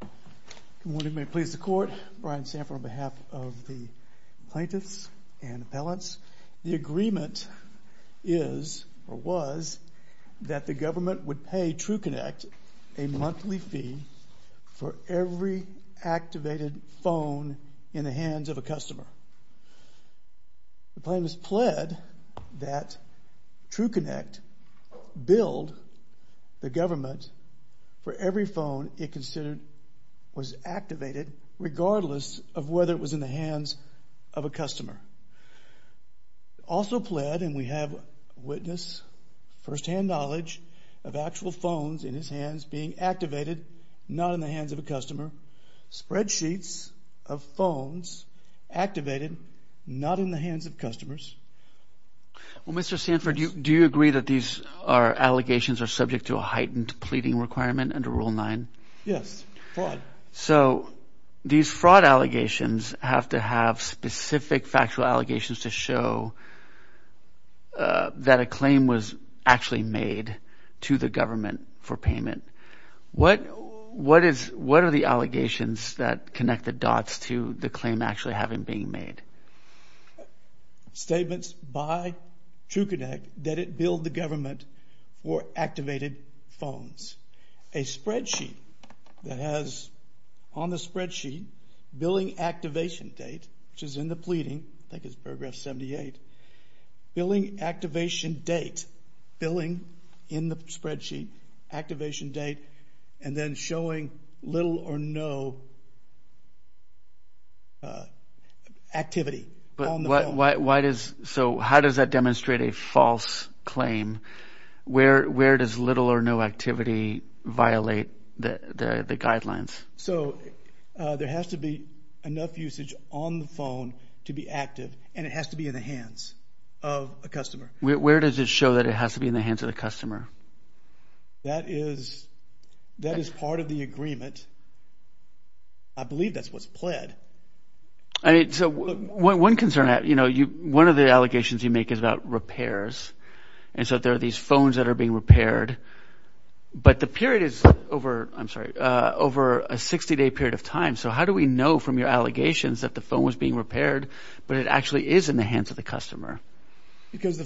Good morning. May it please the court. Brian Sanford on behalf of the plaintiffs and appellants. The agreement is, or was, that the government would pay TruConnect a monthly fee for every activated phone in the hands of a customer. The plan has pledged that TruConnect billed the government for every phone it considered was activated regardless of whether it was in the hands of a customer. Also pledged, and we have witness, first-hand knowledge, of actual phones in his hands being activated, not in the hands of a customer, spreadsheets of phones activated, not in the hands of customers. Well, Mr. Sanford, do you agree that these allegations are subject to a heightened pleading requirement under Rule 9? Yes, fraud. So, these fraud allegations have to have specific factual allegations to show that a claim was actually made to the government for payment. What are the allegations that connect the dots to the claim actually having been made? Statements by TruConnect that it billed the government for activated phones. A spreadsheet that has on the spreadsheet billing activation date, which is in the pleading, I think it's paragraph 78, billing activation date, billing in the spreadsheet, activation date, and then showing little or no activity on the phone. So, how does that demonstrate a false claim? Where does little or no activity violate the guidelines? So, there has to be enough usage on the phone to be active, and it has to be in the hands of a customer. Where does it show that it has to be in the hands of the customer? That is part of the agreement. I believe that's what's pled. I mean, so one concern, you know, one of the allegations you make is about repairs, and so there are these phones that are being repaired, but the period is over, I'm sorry, over a 60-day period of time. So, how do we know from your allegations that the phone was being repaired, but it actually is in the hands of the customer?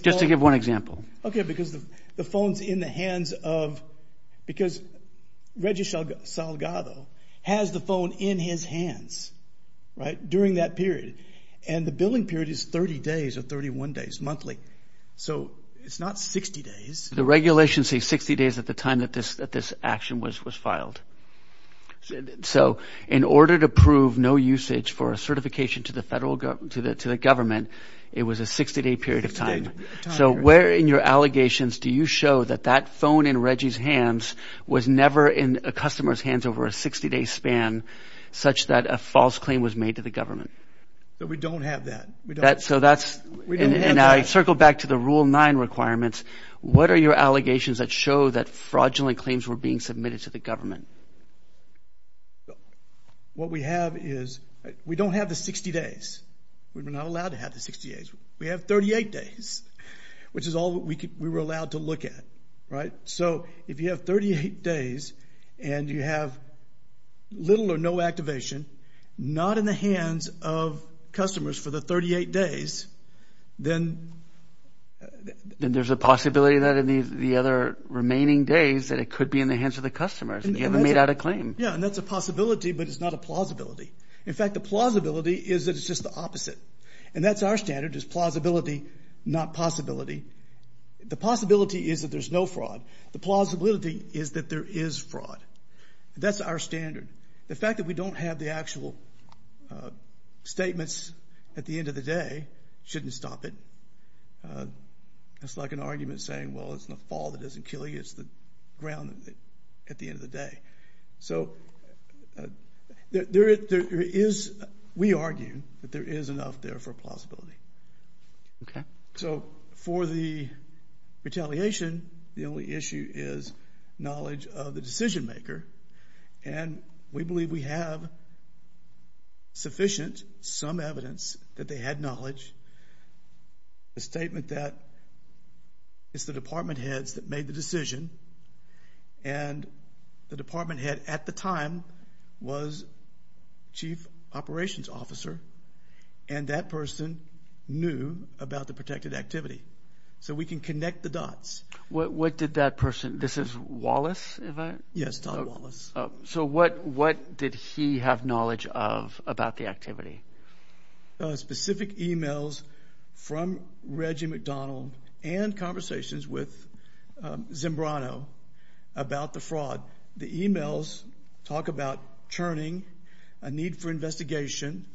Just to give one example. Okay, because the phone's in the hands of, because Reggie Salgado has the phone in his hands, right, during that period, and the billing period is 30 days or 31 days monthly. So, it's not 60 days. The regulations say 60 days at the time that this action was filed. So, in order to prove no usage for a certification to the government, it was a 60-day period of time. So, where in your allegations do you show that that phone in Reggie's hands was never in a customer's hands over a 60-day span, such that a false claim was made to the government? That we don't have that. So, that's, and I circle back to the Rule 9 requirements. What are your allegations that show that fraudulent claims were being submitted to the government? What we have is, we don't have the 60 days. We were not allowed to have the 60 days. We have 38 days, which is all we were allowed to look at, right? So, if you have 38 days and you have little or no activation, not in the hands of customers for the 38 days, then... Then there's a possibility that in the other remaining days that it could be in the hands of the customers, and you haven't made out a claim. Yeah, and that's a possibility, but it's not a plausibility. In fact, the plausibility is that it's just the opposite, and that's our standard, is plausibility, not possibility. The possibility is that there's no fraud. The plausibility is that there is fraud. That's our standard. The fact that we don't have the actual statements at the end of the day shouldn't stop it. It's like an argument saying, well, it's the fall that doesn't kill you. It's the ground at the end of the day. So, we argue that there is enough there for plausibility. Okay. So, for the retaliation, the only issue is knowledge of the decision maker, and we believe we have sufficient, some evidence that they had knowledge, a statement that it's the department heads that made the decision, and the department head at the time was chief operations officer, and that person knew about the protected activity. So, we can connect the dots. What did that person, this is Wallace, is that? Yes, Don Wallace. So, what did he have knowledge of about the activity? Specific emails from Reggie McDonald and conversations with Zimbrano about the fraud. The emails talk about churning, a need for investigation.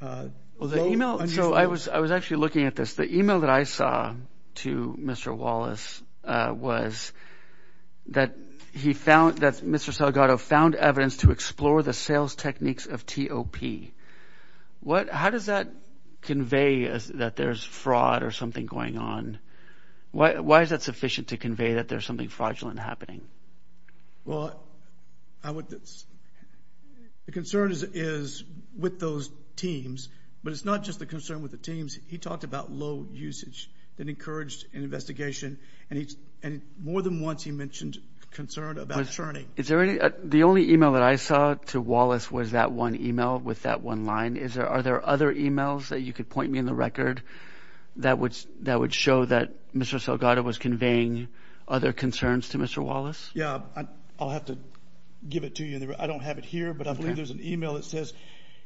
Well, the email... So, I was actually looking at this. The email that I saw to Mr. Wallace was that he found, that Mr. Salgado found evidence to explore the sales techniques of TOP. How does that convey that there's fraud or something going on? Why is that sufficient to convey that there's something fraudulent happening? Well, the concern is with those teams, but it's not just the concern with the teams. He talked about low usage that encouraged an investigation, and more than once, he mentioned concern about churning. Is there any... The only email that I saw to Wallace was that one email with that one line. Are there other emails that you could point me in the record that would show that Mr. Salgado was conveying other concerns to Mr. Wallace? Yeah, I'll have to give it to you. I don't have it here, but I believe there's an email that says,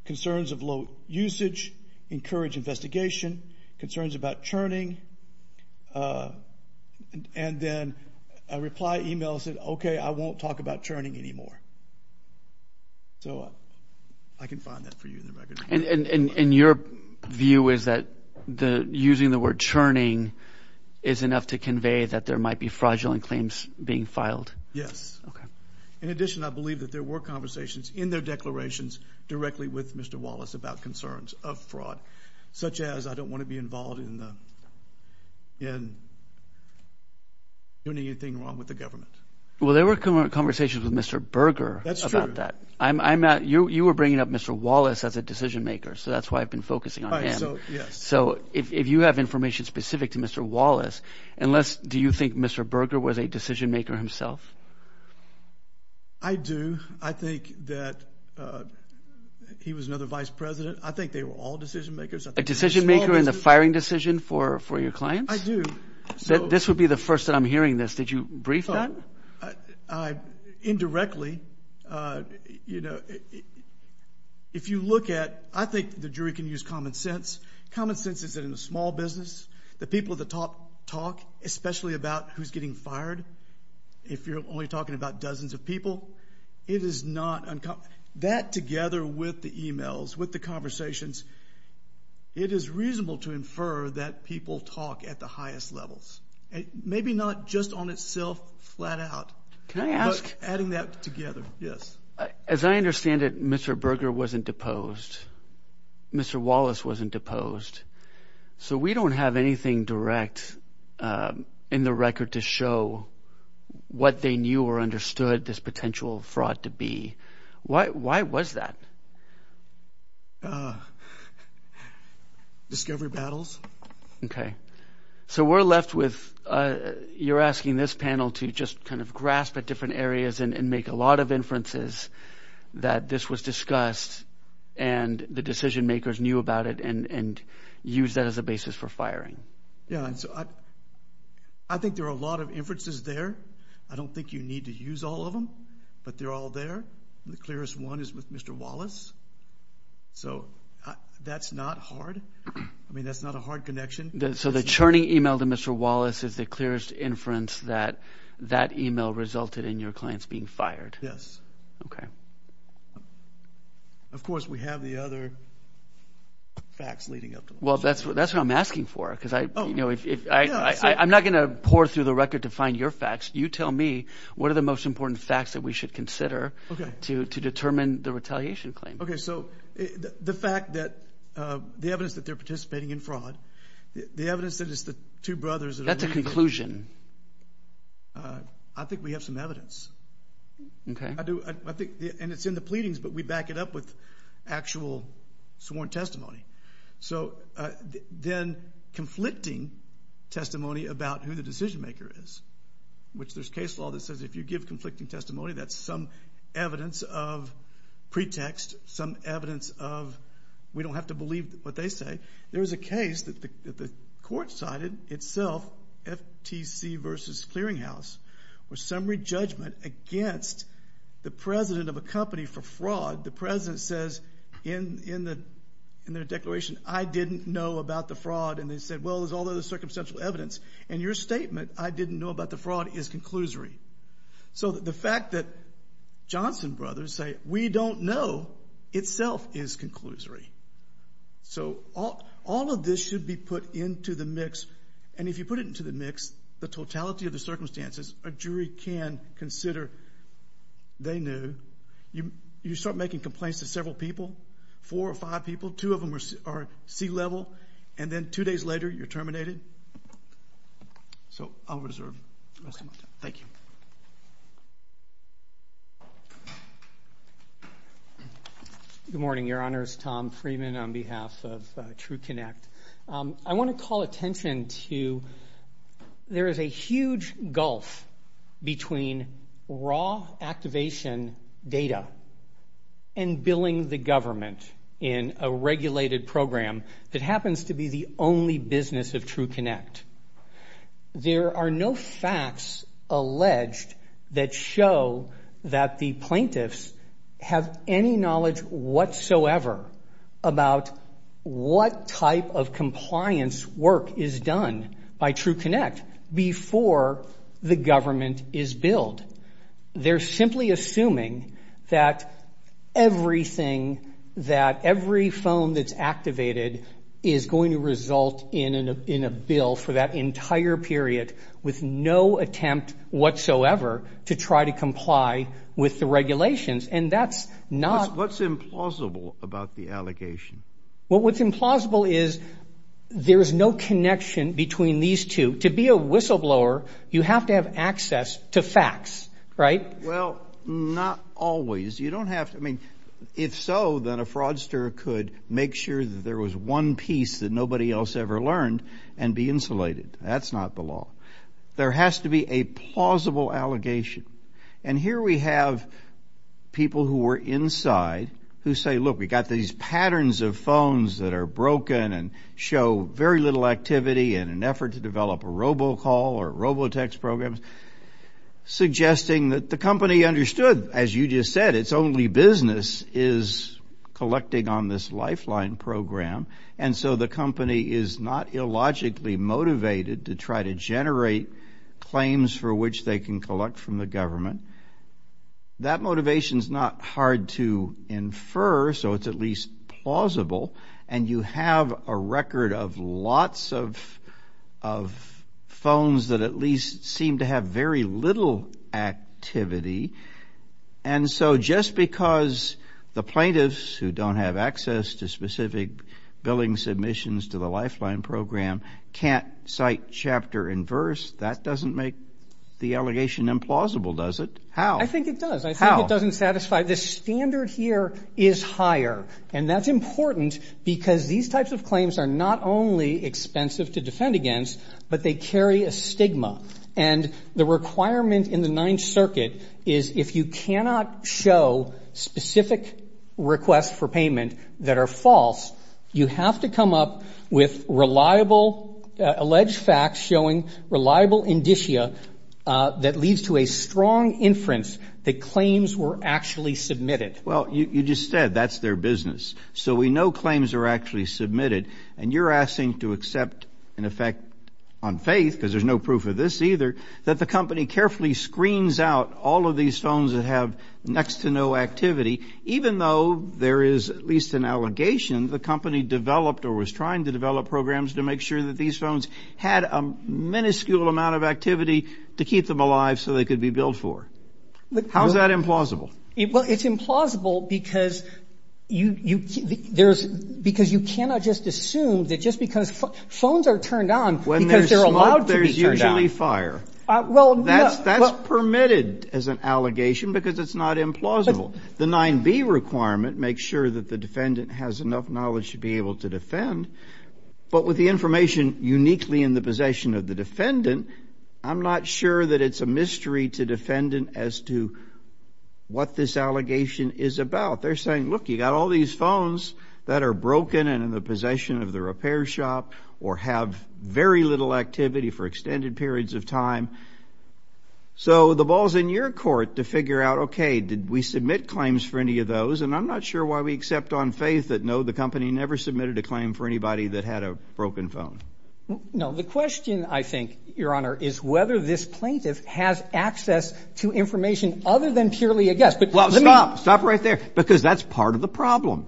concerns of low usage encourage investigation, concerns about churning. And then a reply email said, okay, I won't talk about churning anymore. So, I can find that for you in the record. And your view is that using the word churning is enough to convey that there might be fraudulent claims being filed? Yes. Okay. In addition, I believe that there were conversations in their declarations directly with Mr. Wallace about concerns of fraud, such as, I don't wanna be involved in doing anything wrong with the government. Well, there were conversations with Mr. Berger about that. That's true. I'm not... You were bringing up Mr. Wallace as a decision maker, so that's why I've been focusing on him. So, yes. So, if you have information specific to Mr. Wallace, unless... Do you think Mr. Berger was a decision maker himself? I do. I think that he was another vice president. I think they were all decision makers. A decision maker in the firing decision for your clients? I do. This would be the first that I'm hearing this. Did you brief that? Indirectly, if you look at... I think the jury can use common sense. Common sense is that in a small business, the people at the top talk, especially about who's getting fired. If you're only talking about dozens of people, it is not uncommon. That together with the emails, with the conversations, it is reasonable to infer that people talk at the highest levels. Maybe not just on itself, flat out. Can I ask... But adding that together. Yes. As I understand it, Mr. Berger wasn't deposed. Mr. Wallace wasn't deposed. So, we don't have anything direct in the record to show what they knew or understood this potential fraud to be. Why was that? Discovery battles. Okay. So, we're left with... You're asking this panel to just kind of grasp at different areas and make a lot of inferences that this was discussed and the decision makers knew about it and used that as a basis for firing. Yeah. I think there are a lot of inferences there. I don't think you need to use all of them, but they're all there. The clearest one is with Mr. Wallace. So, that's not hard. I mean, that's not a hard connection. So, the churning email to Mr. Wallace is the clearest inference that that email resulted in your clients being fired? Yes. Okay. Of course, we have the other facts leading up to it. Well, that's what I'm asking for. Because I... I'm not gonna pour through the record to find your facts. You tell me what are the most important facts that we should consider to determine the retaliation claim. Okay. So, the fact that... The evidence that they're participating in fraud, the evidence that it's the two brothers that are... That's a conclusion. I think we have some evidence. Okay. I do. I think... And it's in the pleadings, but we back it up with actual sworn testimony. So, then conflicting testimony about who the decision maker is, which there's case law that says, if you give conflicting testimony, that's some evidence of pretext, some evidence of... We don't have to believe what they say. There was a case that the court cited itself, FTC versus Clearing House, where summary judgment against the president of a company for fraud. The president says in their declaration, I didn't know about the fraud. And they said, well, there's all those circumstantial evidence. And your statement, I didn't know about the fraud, is conclusory. So, the fact that Johnson brothers say, we don't know, itself is conclusory. So, all of this should be put into the mix. And if you put it into the mix, the totality of the circumstances, a jury can consider they knew. You start making complaints to several people, four or five people, two of them are sea level, and then two days later, you're terminated. So, I'll reserve the rest of my time. Thank you. Good morning, Your Honors. Tom Freeman on behalf of True Connect. I wanna call attention to... There is a huge gulf between raw activation data and billing the government in a regulated program that happens to be the only business of True Connect. There are no facts alleged that show that the plaintiffs have any knowledge whatsoever about what type of compliance work is done by True Connect before the government is billed. They're simply assuming that everything, that every phone that's activated is going to result in a bill for that entire period with no attempt whatsoever to try to comply with the regulations. And that's not... What's implausible about the allegation? Well, what's implausible is there's no connection between these two. To be a whistleblower, you have to have access to facts, right? Well, not always. You don't have to... I mean, if so, then a fraudster could make sure that there was one piece that nobody else ever learned and be insulated. That's not the law. There has to be a plausible allegation. And here we have people who were inside who say, look, we got these patterns of phones that are broken and show very little activity in an effort to develop a robocall or robotex program, suggesting that the company understood, as you just said, it's only business is collecting on this lifeline program. And so the company is not illogically motivated to try to generate claims for which they can collect from the government. That motivation is not hard to infer, so it's at least plausible. And you have a record of lots of of phones that at least seem to have very little activity. And so just because the plaintiffs who don't have access to specific billing submissions to the lifeline program can't cite chapter and verse, that doesn't make the allegation implausible, does it? How? I think it does. I think it doesn't satisfy the standard here is higher. And that's important because these types of claims are not only expensive to defend against, but they carry a stigma. And the requirement in the Ninth Circuit is if you cannot show specific requests for payment that are false, you have to come up with reliable alleged facts showing reliable indicia that leads to a strong inference that claims were actually submitted. Well, you just said that's their business. So we know claims are actually submitted. And you're asking to accept an effect on faith because there's no proof of this either, that the company carefully screens out all of these phones that have next to no activity, even though there is at least an allegation the company developed or was trying to develop programs to make sure that these phones had a minuscule amount of activity to keep them alive so they could be billed for. How is that implausible? Well, it's implausible because you there's because you cannot just assume that just because phones are turned on when they're allowed, there's usually fire. Well, that's that's permitted as an allegation because it's not implausible. The 9B requirement makes sure that the defendant has enough knowledge to be able to defend. But with the information uniquely in the possession of the defendant, I'm not sure that it's a mystery to defendant as to what this allegation is about. They're saying, look, you got all these phones that are broken and in the possession of the repair shop or have very little activity for extended periods of time. So the ball's in your court to figure out, OK, did we submit claims for any of those? And I'm not sure why we accept on faith that, no, the company never submitted a claim for anybody that had a broken phone. No, the question, I think, Your Honor, is whether this plaintiff has access to information other than purely a guess. But well, stop, stop right there, because that's part of the problem.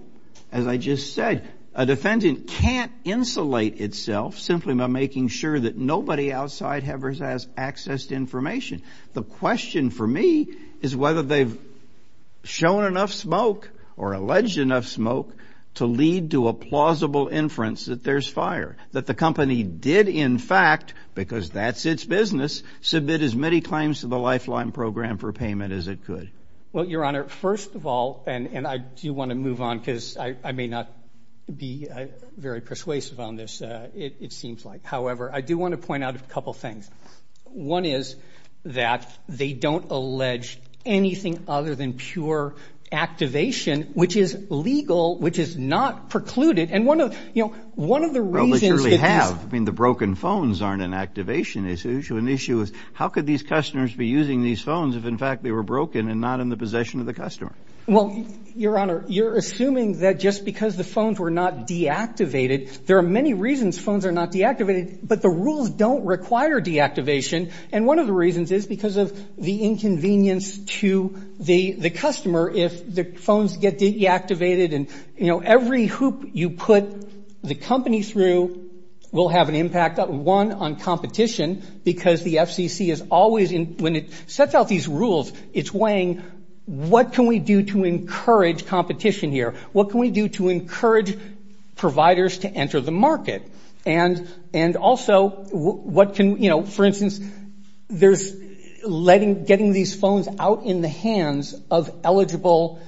As I just said, a defendant can't insulate itself simply by making sure that nobody outside has access to information. The question for me is whether they've shown enough smoke or alleged enough smoke to lead to a plausible inference that there's fire, that the company did, in fact, because that's its business, submit as many claims to the Lifeline program for payment as it could. Well, Your Honor, first of all, and I do want to move on because I may not be very persuasive on this. It seems like, however, I do want to point out a couple of things. One is that they don't allege anything other than pure activation, which is legal, which is not precluded. And one of, you know, one of the reasons they have been the broken phones aren't an activation issue. An issue is how could these customers be using these phones if, in fact, they were broken and not in the possession of the customer? Well, Your Honor, you're assuming that just because the phones were not deactivated, there are many reasons phones are not deactivated. But the rules don't require deactivation. And one of the reasons is because of the inconvenience to the customer. If the phones get deactivated and, you know, every hoop you put the company through will have an impact, one, on competition, because the FCC is always in when it sets out these rules, it's weighing what can we do to encourage competition here? What can we do to encourage providers to enter the market? And and also what can you know, for instance, there's letting getting these phones out in the hands of eligible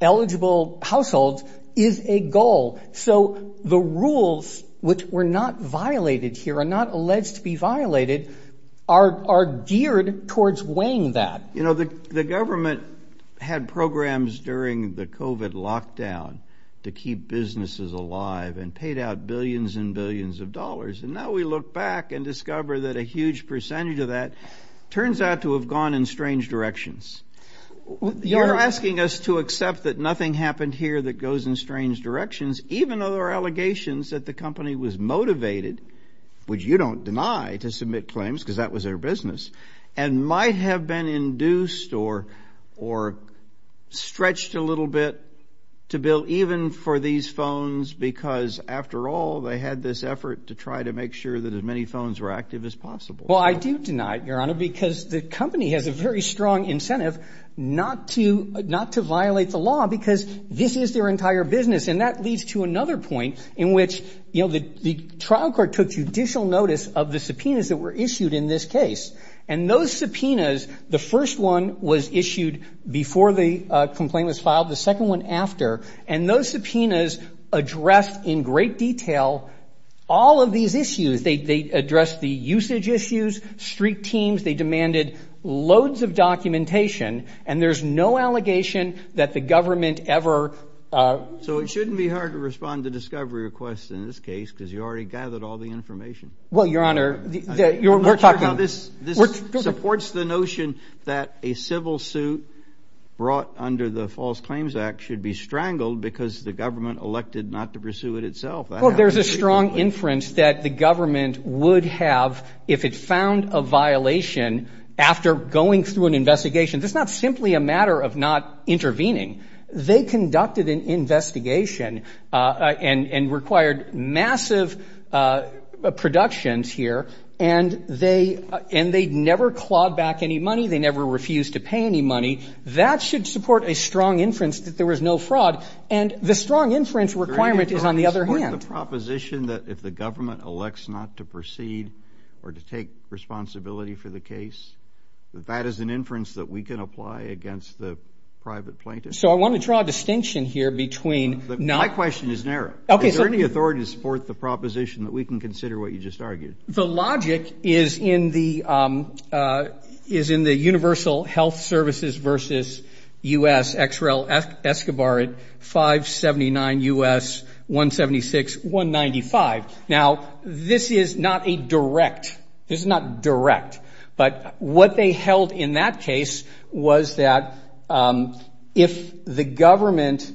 eligible households is a goal. So the rules which were not violated here are not alleged to be violated, are geared towards weighing that. You know, the government had programs during the covid lockdown to keep businesses alive and paid out billions and billions of dollars. And now we look back and discover that a huge percentage of that turns out to have gone in strange directions. You're asking us to accept that nothing happened here that goes in strange directions, even though there are allegations that the company was motivated, which you don't deny to submit claims because that was their business and might have been induced or or stretched a little bit to bill, even for these phones, because after all, they had this effort to try to make sure that as many phones were active as possible. Well, I do deny it, Your Honor, because the company has a very strong incentive not to not to violate the law because this is their entire business. And that leads to another point in which, you know, the the trial court took judicial notice of the subpoenas that were issued in this case. And those subpoenas, the first one was issued before the complaint was filed, the second one after. And those subpoenas addressed in great detail all of these issues. They addressed the usage issues, street teams. They demanded loads of documentation. And there's no allegation that the government ever. So it shouldn't be hard to respond to discovery requests in this case because you already gathered all the information. Well, Your Honor, you're talking about this. This supports the notion that a civil suit brought under the False Claims Act should be strangled because the government elected not to pursue it itself. There's a strong inference that the government would have if it found a violation after going through an investigation. That's not simply a matter of not intervening. They conducted an investigation and required massive productions here. And they and they never clawed back any money. They never refused to pay any money. That should support a strong inference that there was no fraud. And the strong inference requirement is, on the other hand, the proposition that if the government elects not to proceed, or to take responsibility for the case, that that is an inference that we can apply against the private plaintiff. So I want to draw a distinction here between. My question is narrow. Is there any authority to support the proposition that we can consider what you just argued? The logic is in the is in the Universal Health Services versus U.S. XREL Escobar at 579 U.S., 176, 195. Now, this is not a direct. This is not direct. But what they held in that case was that if the government,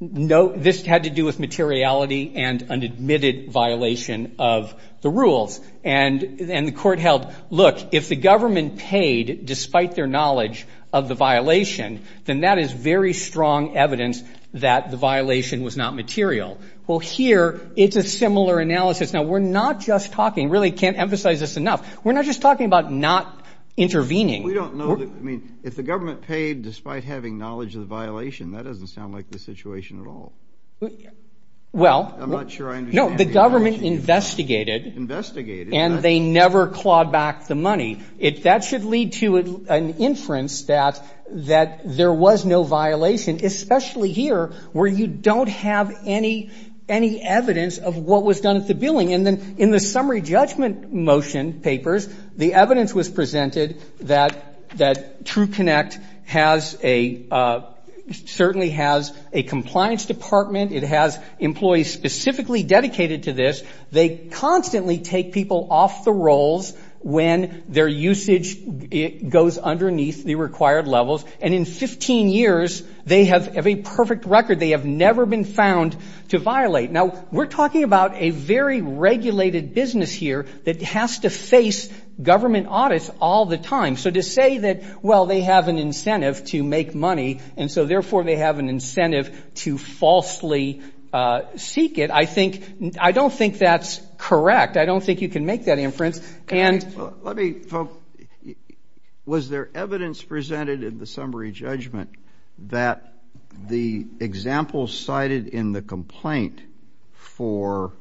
no, this had to do with materiality and an admitted violation of the rules. And then the court held, look, if the government paid despite their knowledge of the violation, then that is very strong evidence that the violation was not material. Well, here it's a similar analysis. Now, we're not just talking really can't emphasize this enough. We're not just talking about not intervening. We don't know that. I mean, if the government paid despite having knowledge of the violation, that doesn't sound like the situation at all. Well, I'm not sure I know. The government investigated, investigated, and they never clawed back the money. If that should lead to an inference that that there was no violation, especially here where you don't have any any evidence of what was done at the billing. And then in the summary judgment motion papers, the evidence was presented that that True Connect has a certainly has a compliance department. It has employees specifically dedicated to this. They constantly take people off the rolls when their usage goes underneath the required levels. And in 15 years, they have a perfect record. They have never been found to violate. Now, we're talking about a very regulated business here that has to face government audits all the time. So to say that, well, they have an incentive to make money, and so therefore they have an incentive to falsely seek it. I think I don't think that's correct. I don't think you can make that inference. Let me, was there evidence presented in the summary judgment that the example cited in the complaint for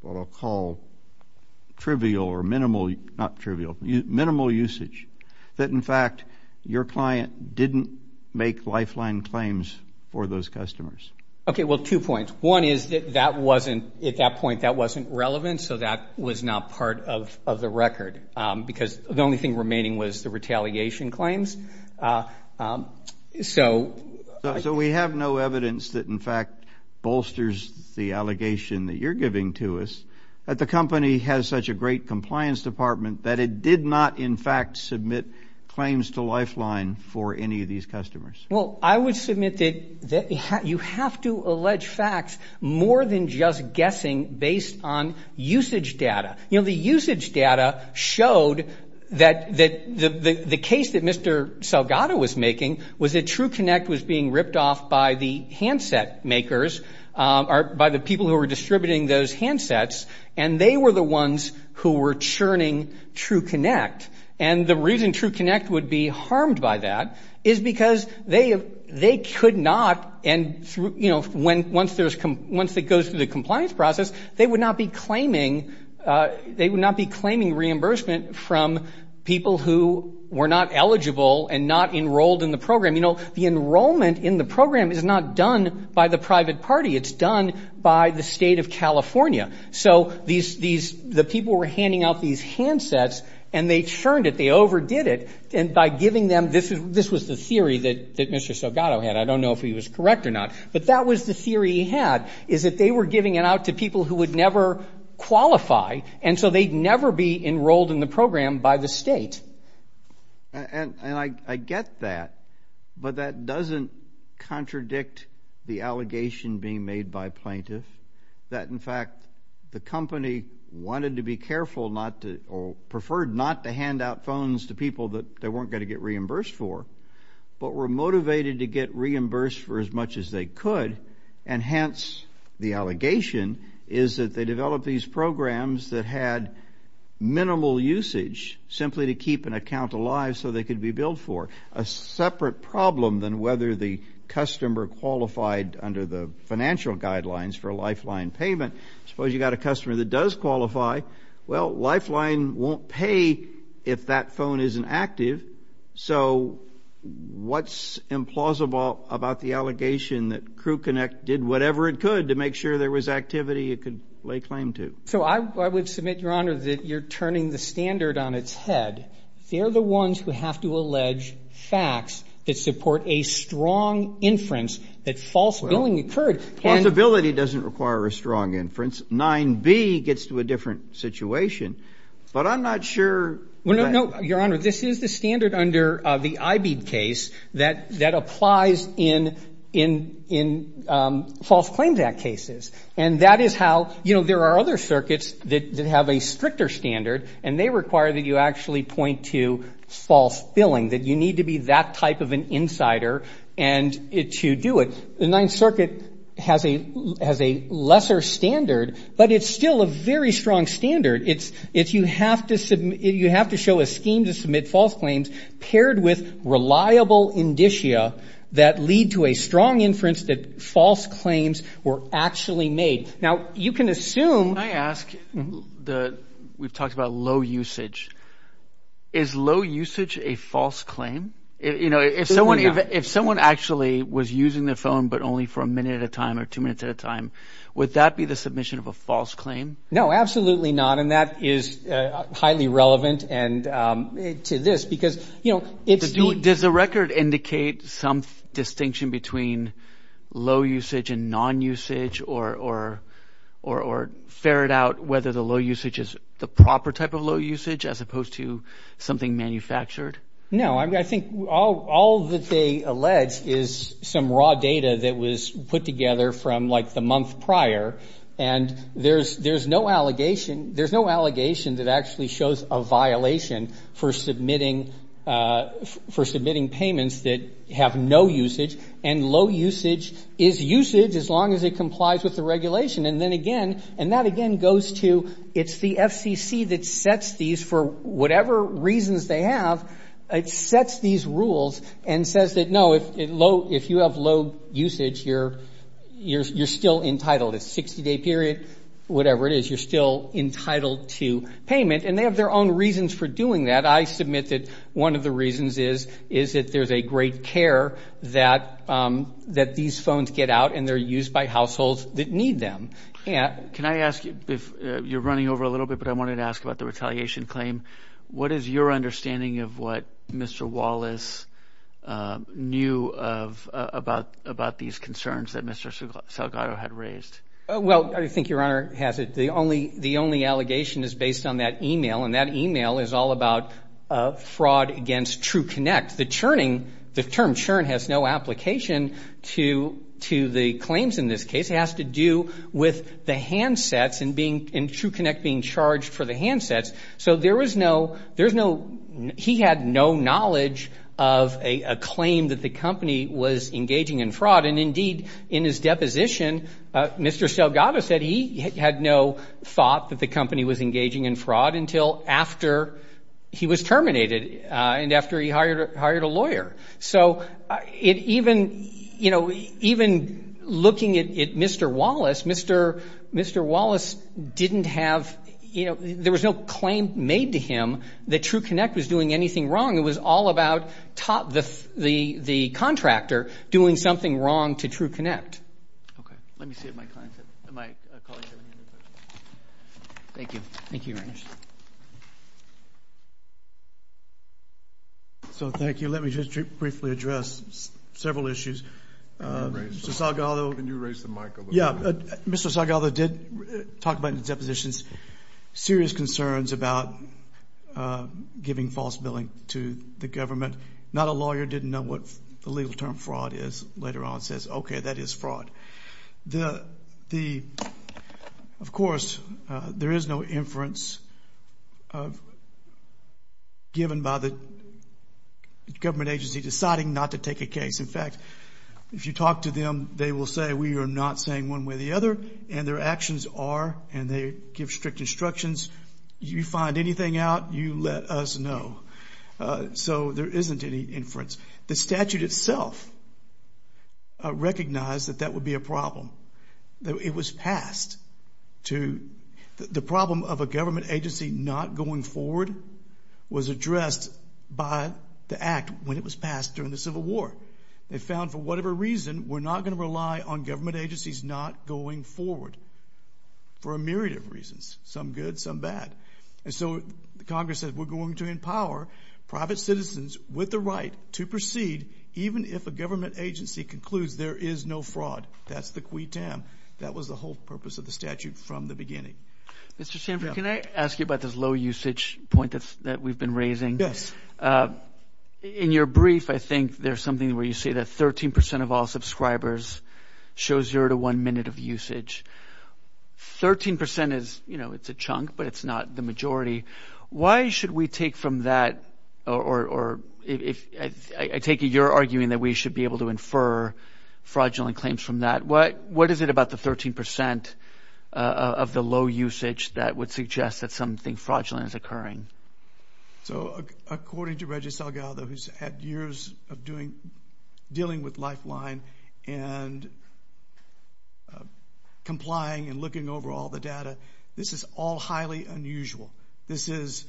what I'll call trivial or minimal, not trivial, minimal usage, that in fact, your client didn't make lifeline claims for those customers? OK, well, two points. One is that that wasn't at that point, that wasn't relevant. So that was not part of the record because the only thing remaining was the retaliation claims. So so we have no evidence that, in fact, bolsters the allegation that you're giving to us that the company has such a great compliance department that it did not, in fact, submit claims to lifeline for any of these customers. Well, I would submit that you have to allege facts more than just guessing based on usage data. You know, the usage data showed that the case that Mr. Salgado was making was that True Connect was being ripped off by the handset makers or by the people who were distributing those handsets. And they were the ones who were churning True Connect. And the reason True Connect would be harmed by that is because they could not. And, you know, when once there's once it goes through the compliance process, they would not be claiming they would not be claiming reimbursement from people who were not eligible and not enrolled in the program. You know, the enrollment in the program is not done by the private party. It's done by the state of California. So these these the people were handing out these handsets and they churned it. They overdid it. And by giving them this, this was the theory that that Mr. Salgado had. I don't know if he was correct or not, but that was the theory he had, is that they were giving it out to people who would never qualify. And so they'd never be enrolled in the program by the state. And I get that, but that doesn't contradict the allegation being made by plaintiffs that, in fact, the company wanted to be careful not to or preferred not to hand out phones to people that they weren't going to get reimbursed for, but were motivated to get reimbursed for as much as they could. And hence, the allegation is that they developed these programs that had minimal usage simply to keep an account alive so they could be billed for a separate problem than whether the customer qualified under the financial guidelines for a lifeline payment. Suppose you got a customer that does qualify. Well, lifeline won't pay if that phone isn't active. So what's implausible about the allegation that Crew Connect did whatever it could to make sure there was activity it could lay claim to? So I would submit, Your Honor, that you're turning the standard on its head. They're the ones who have to allege facts that support a strong inference that false billing occurred. False billing doesn't require a strong inference. 9B gets to a different situation. But I'm not sure. Well, no, Your Honor, this is the standard under the IBEED case that applies in false claims act cases. And that is how, you know, there are other circuits that have a stricter standard, and they require that you actually point to false billing, that you need to be that type of an insider to do it. The Ninth Circuit has a lesser standard, but it's still a very strong standard. It's you have to show a scheme to submit false claims paired with reliable indicia that lead to a strong inference that false claims were actually made. Now, you can assume. Can I ask, we've talked about low usage. Is low usage a false claim? You know, if someone actually was using the phone, but only for a minute at a time or two minutes at a time, would that be the submission of a false claim? No, absolutely not. And that is highly relevant. And to this, because, you know, it's. Does the record indicate some distinction between low usage and non usage or or or ferret out whether the low usage is the proper type of low usage as opposed to something manufactured? No, I think all that they allege is some raw data that was put together from like the month prior. And there's there's no allegation. There's no allegation that actually shows a violation for submitting for submitting payments that have no usage and low usage is usage as long as it complies with the regulation. And then again, and that again goes to it's the FCC that sets these for whatever reasons they have. It sets these rules and says that, no, if it low, if you have low usage here, you're still entitled. It's 60 day period, whatever it is, you're still entitled to payment and they have their own reasons for doing that. I submit that one of the reasons is, is that there's a great care that that these phones get out and they're used by households that need them. And can I ask if you're running over a little bit, but I wanted to ask about the retaliation claim. What is your understanding of what Mr. Wallace knew of about about these concerns that Mr. Salgado had raised? Well, I think your honor has it. The only, the only allegation is based on that email. And that email is all about a fraud against true connect. The churning, the term churn has no application to, to the claims in this case. It has to do with the handsets and being in true connect, being charged for the handsets. So there was no, there's no, he had no knowledge of a claim that the company was engaging in fraud. And indeed in his deposition, Mr. Salgado said he had no thought that the company was engaging in fraud until after he was terminated and after he hired, hired a lawyer. So it even, you know, even looking at it, Mr. Wallace, Mr. Mr. Wallace didn't have, you know, there was no claim made to him that true connect was doing anything wrong. It was all about top, the, the, the contractor doing something wrong to true connect. Okay. Let me see if my client, my colleague. Thank you. Thank you very much. So thank you. Let me just briefly address several issues. Salgado. Can you raise the mic a little bit? Yeah. Mr. Salgado did talk about in the depositions, serious concerns about giving false billing to the government. Not a lawyer didn't know what the legal term fraud is later on says, okay, that is fraud. The, the, of course there is no inference of given by the government agency deciding not to take a case. In fact, if you talk to them, they will say, we are not saying one way or the other, and their actions are, and they give strict instructions. You find anything out, you let us know. So there isn't any inference. The statute itself recognized that that would be a problem. That it was passed to the problem of a government agency not going forward was addressed by the act when it was passed during the civil war. They found for whatever reason, we're not going to rely on government agencies, not going forward for a myriad of reasons, some good, some bad. And so Congress said, we're going to empower private citizens with the right to proceed, even if a government agency concludes there is no fraud. That's the qui tam. That was the whole purpose of the statute from the beginning. Mr. Sanford, can I ask you about this low usage point that we've been raising? In your brief, I think there's something where you say that 13% of all subscribers show zero to one minute of usage. 13% is, you know, it's a chunk, but it's not the majority. Why should we take from that, or if I take it, you're arguing that we should be able to infer fraudulent claims from that. What, what is it about the 13% of the low usage that would suggest that something fraudulent is occurring? So according to Reggie Salgado, who's had years of doing, dealing with Lifeline and complying and looking over all the data, this is all highly unusual. This is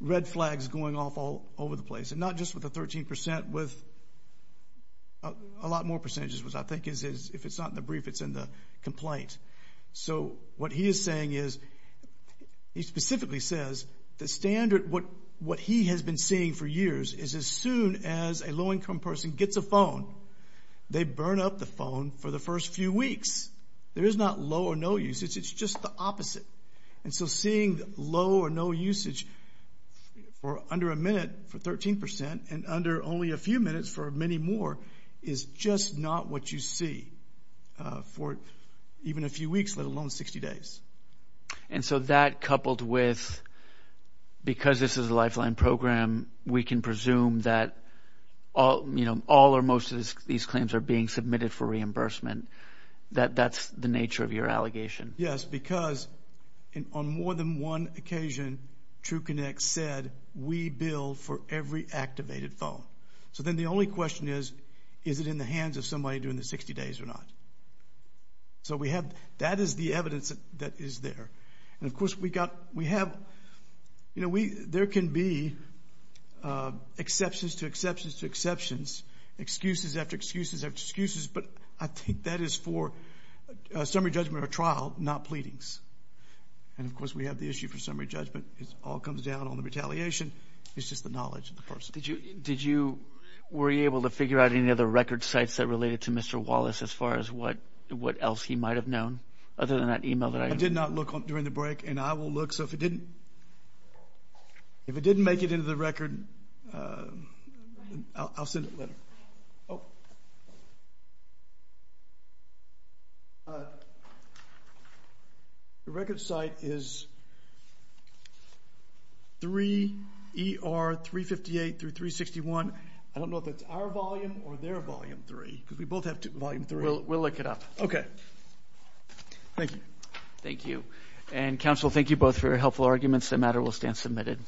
red flags going off all over the place. And not just with the 13%, with a lot more percentages, which I think is, if it's not in the brief, it's in the complaint. So what he is saying is, he specifically says the standard, what, what he has been seeing for years is as soon as a low-income person gets a phone, they burn up the phone for the first few weeks. There is not low or no usage. It's just the opposite. And so seeing low or no usage for under a minute for 13% and under only a few minutes for many more is just not what you see for even a few weeks, let alone 60 days. And so that coupled with, because this is a Lifeline program, we can presume that all, you know, all or most of these claims are being submitted for reimbursement. That, that's the nature of your allegation. Yes, because on more than one occasion, True Connect said, we bill for every activated phone. So then the only question is, is it in the hands of somebody doing the 60 days or not? So we have, that is the evidence that is there. And of course we got, we have, you know, we, there can be exceptions to exceptions to exceptions, excuses after excuses after excuses. But I think that is for a summary judgment or trial, not pleadings. And of course we have the issue for summary judgment. It all comes down on the retaliation. It's just the knowledge of the person. Did you, did you, were you able to figure out any other record sites that related to Mr. Wallace as far as what, what else he might have known other than that email that I did not look on during the break? And I will look. So if it didn't, if it didn't make it into the record, I'll send a letter. Oh, the record site is 3 ER 358 through 361. I don't know if it's our volume or their volume three, because we both have volume three, we'll look it up. Okay. Thank you. Thank you. And counsel, thank you both for your helpful arguments. That matter will stand submitted.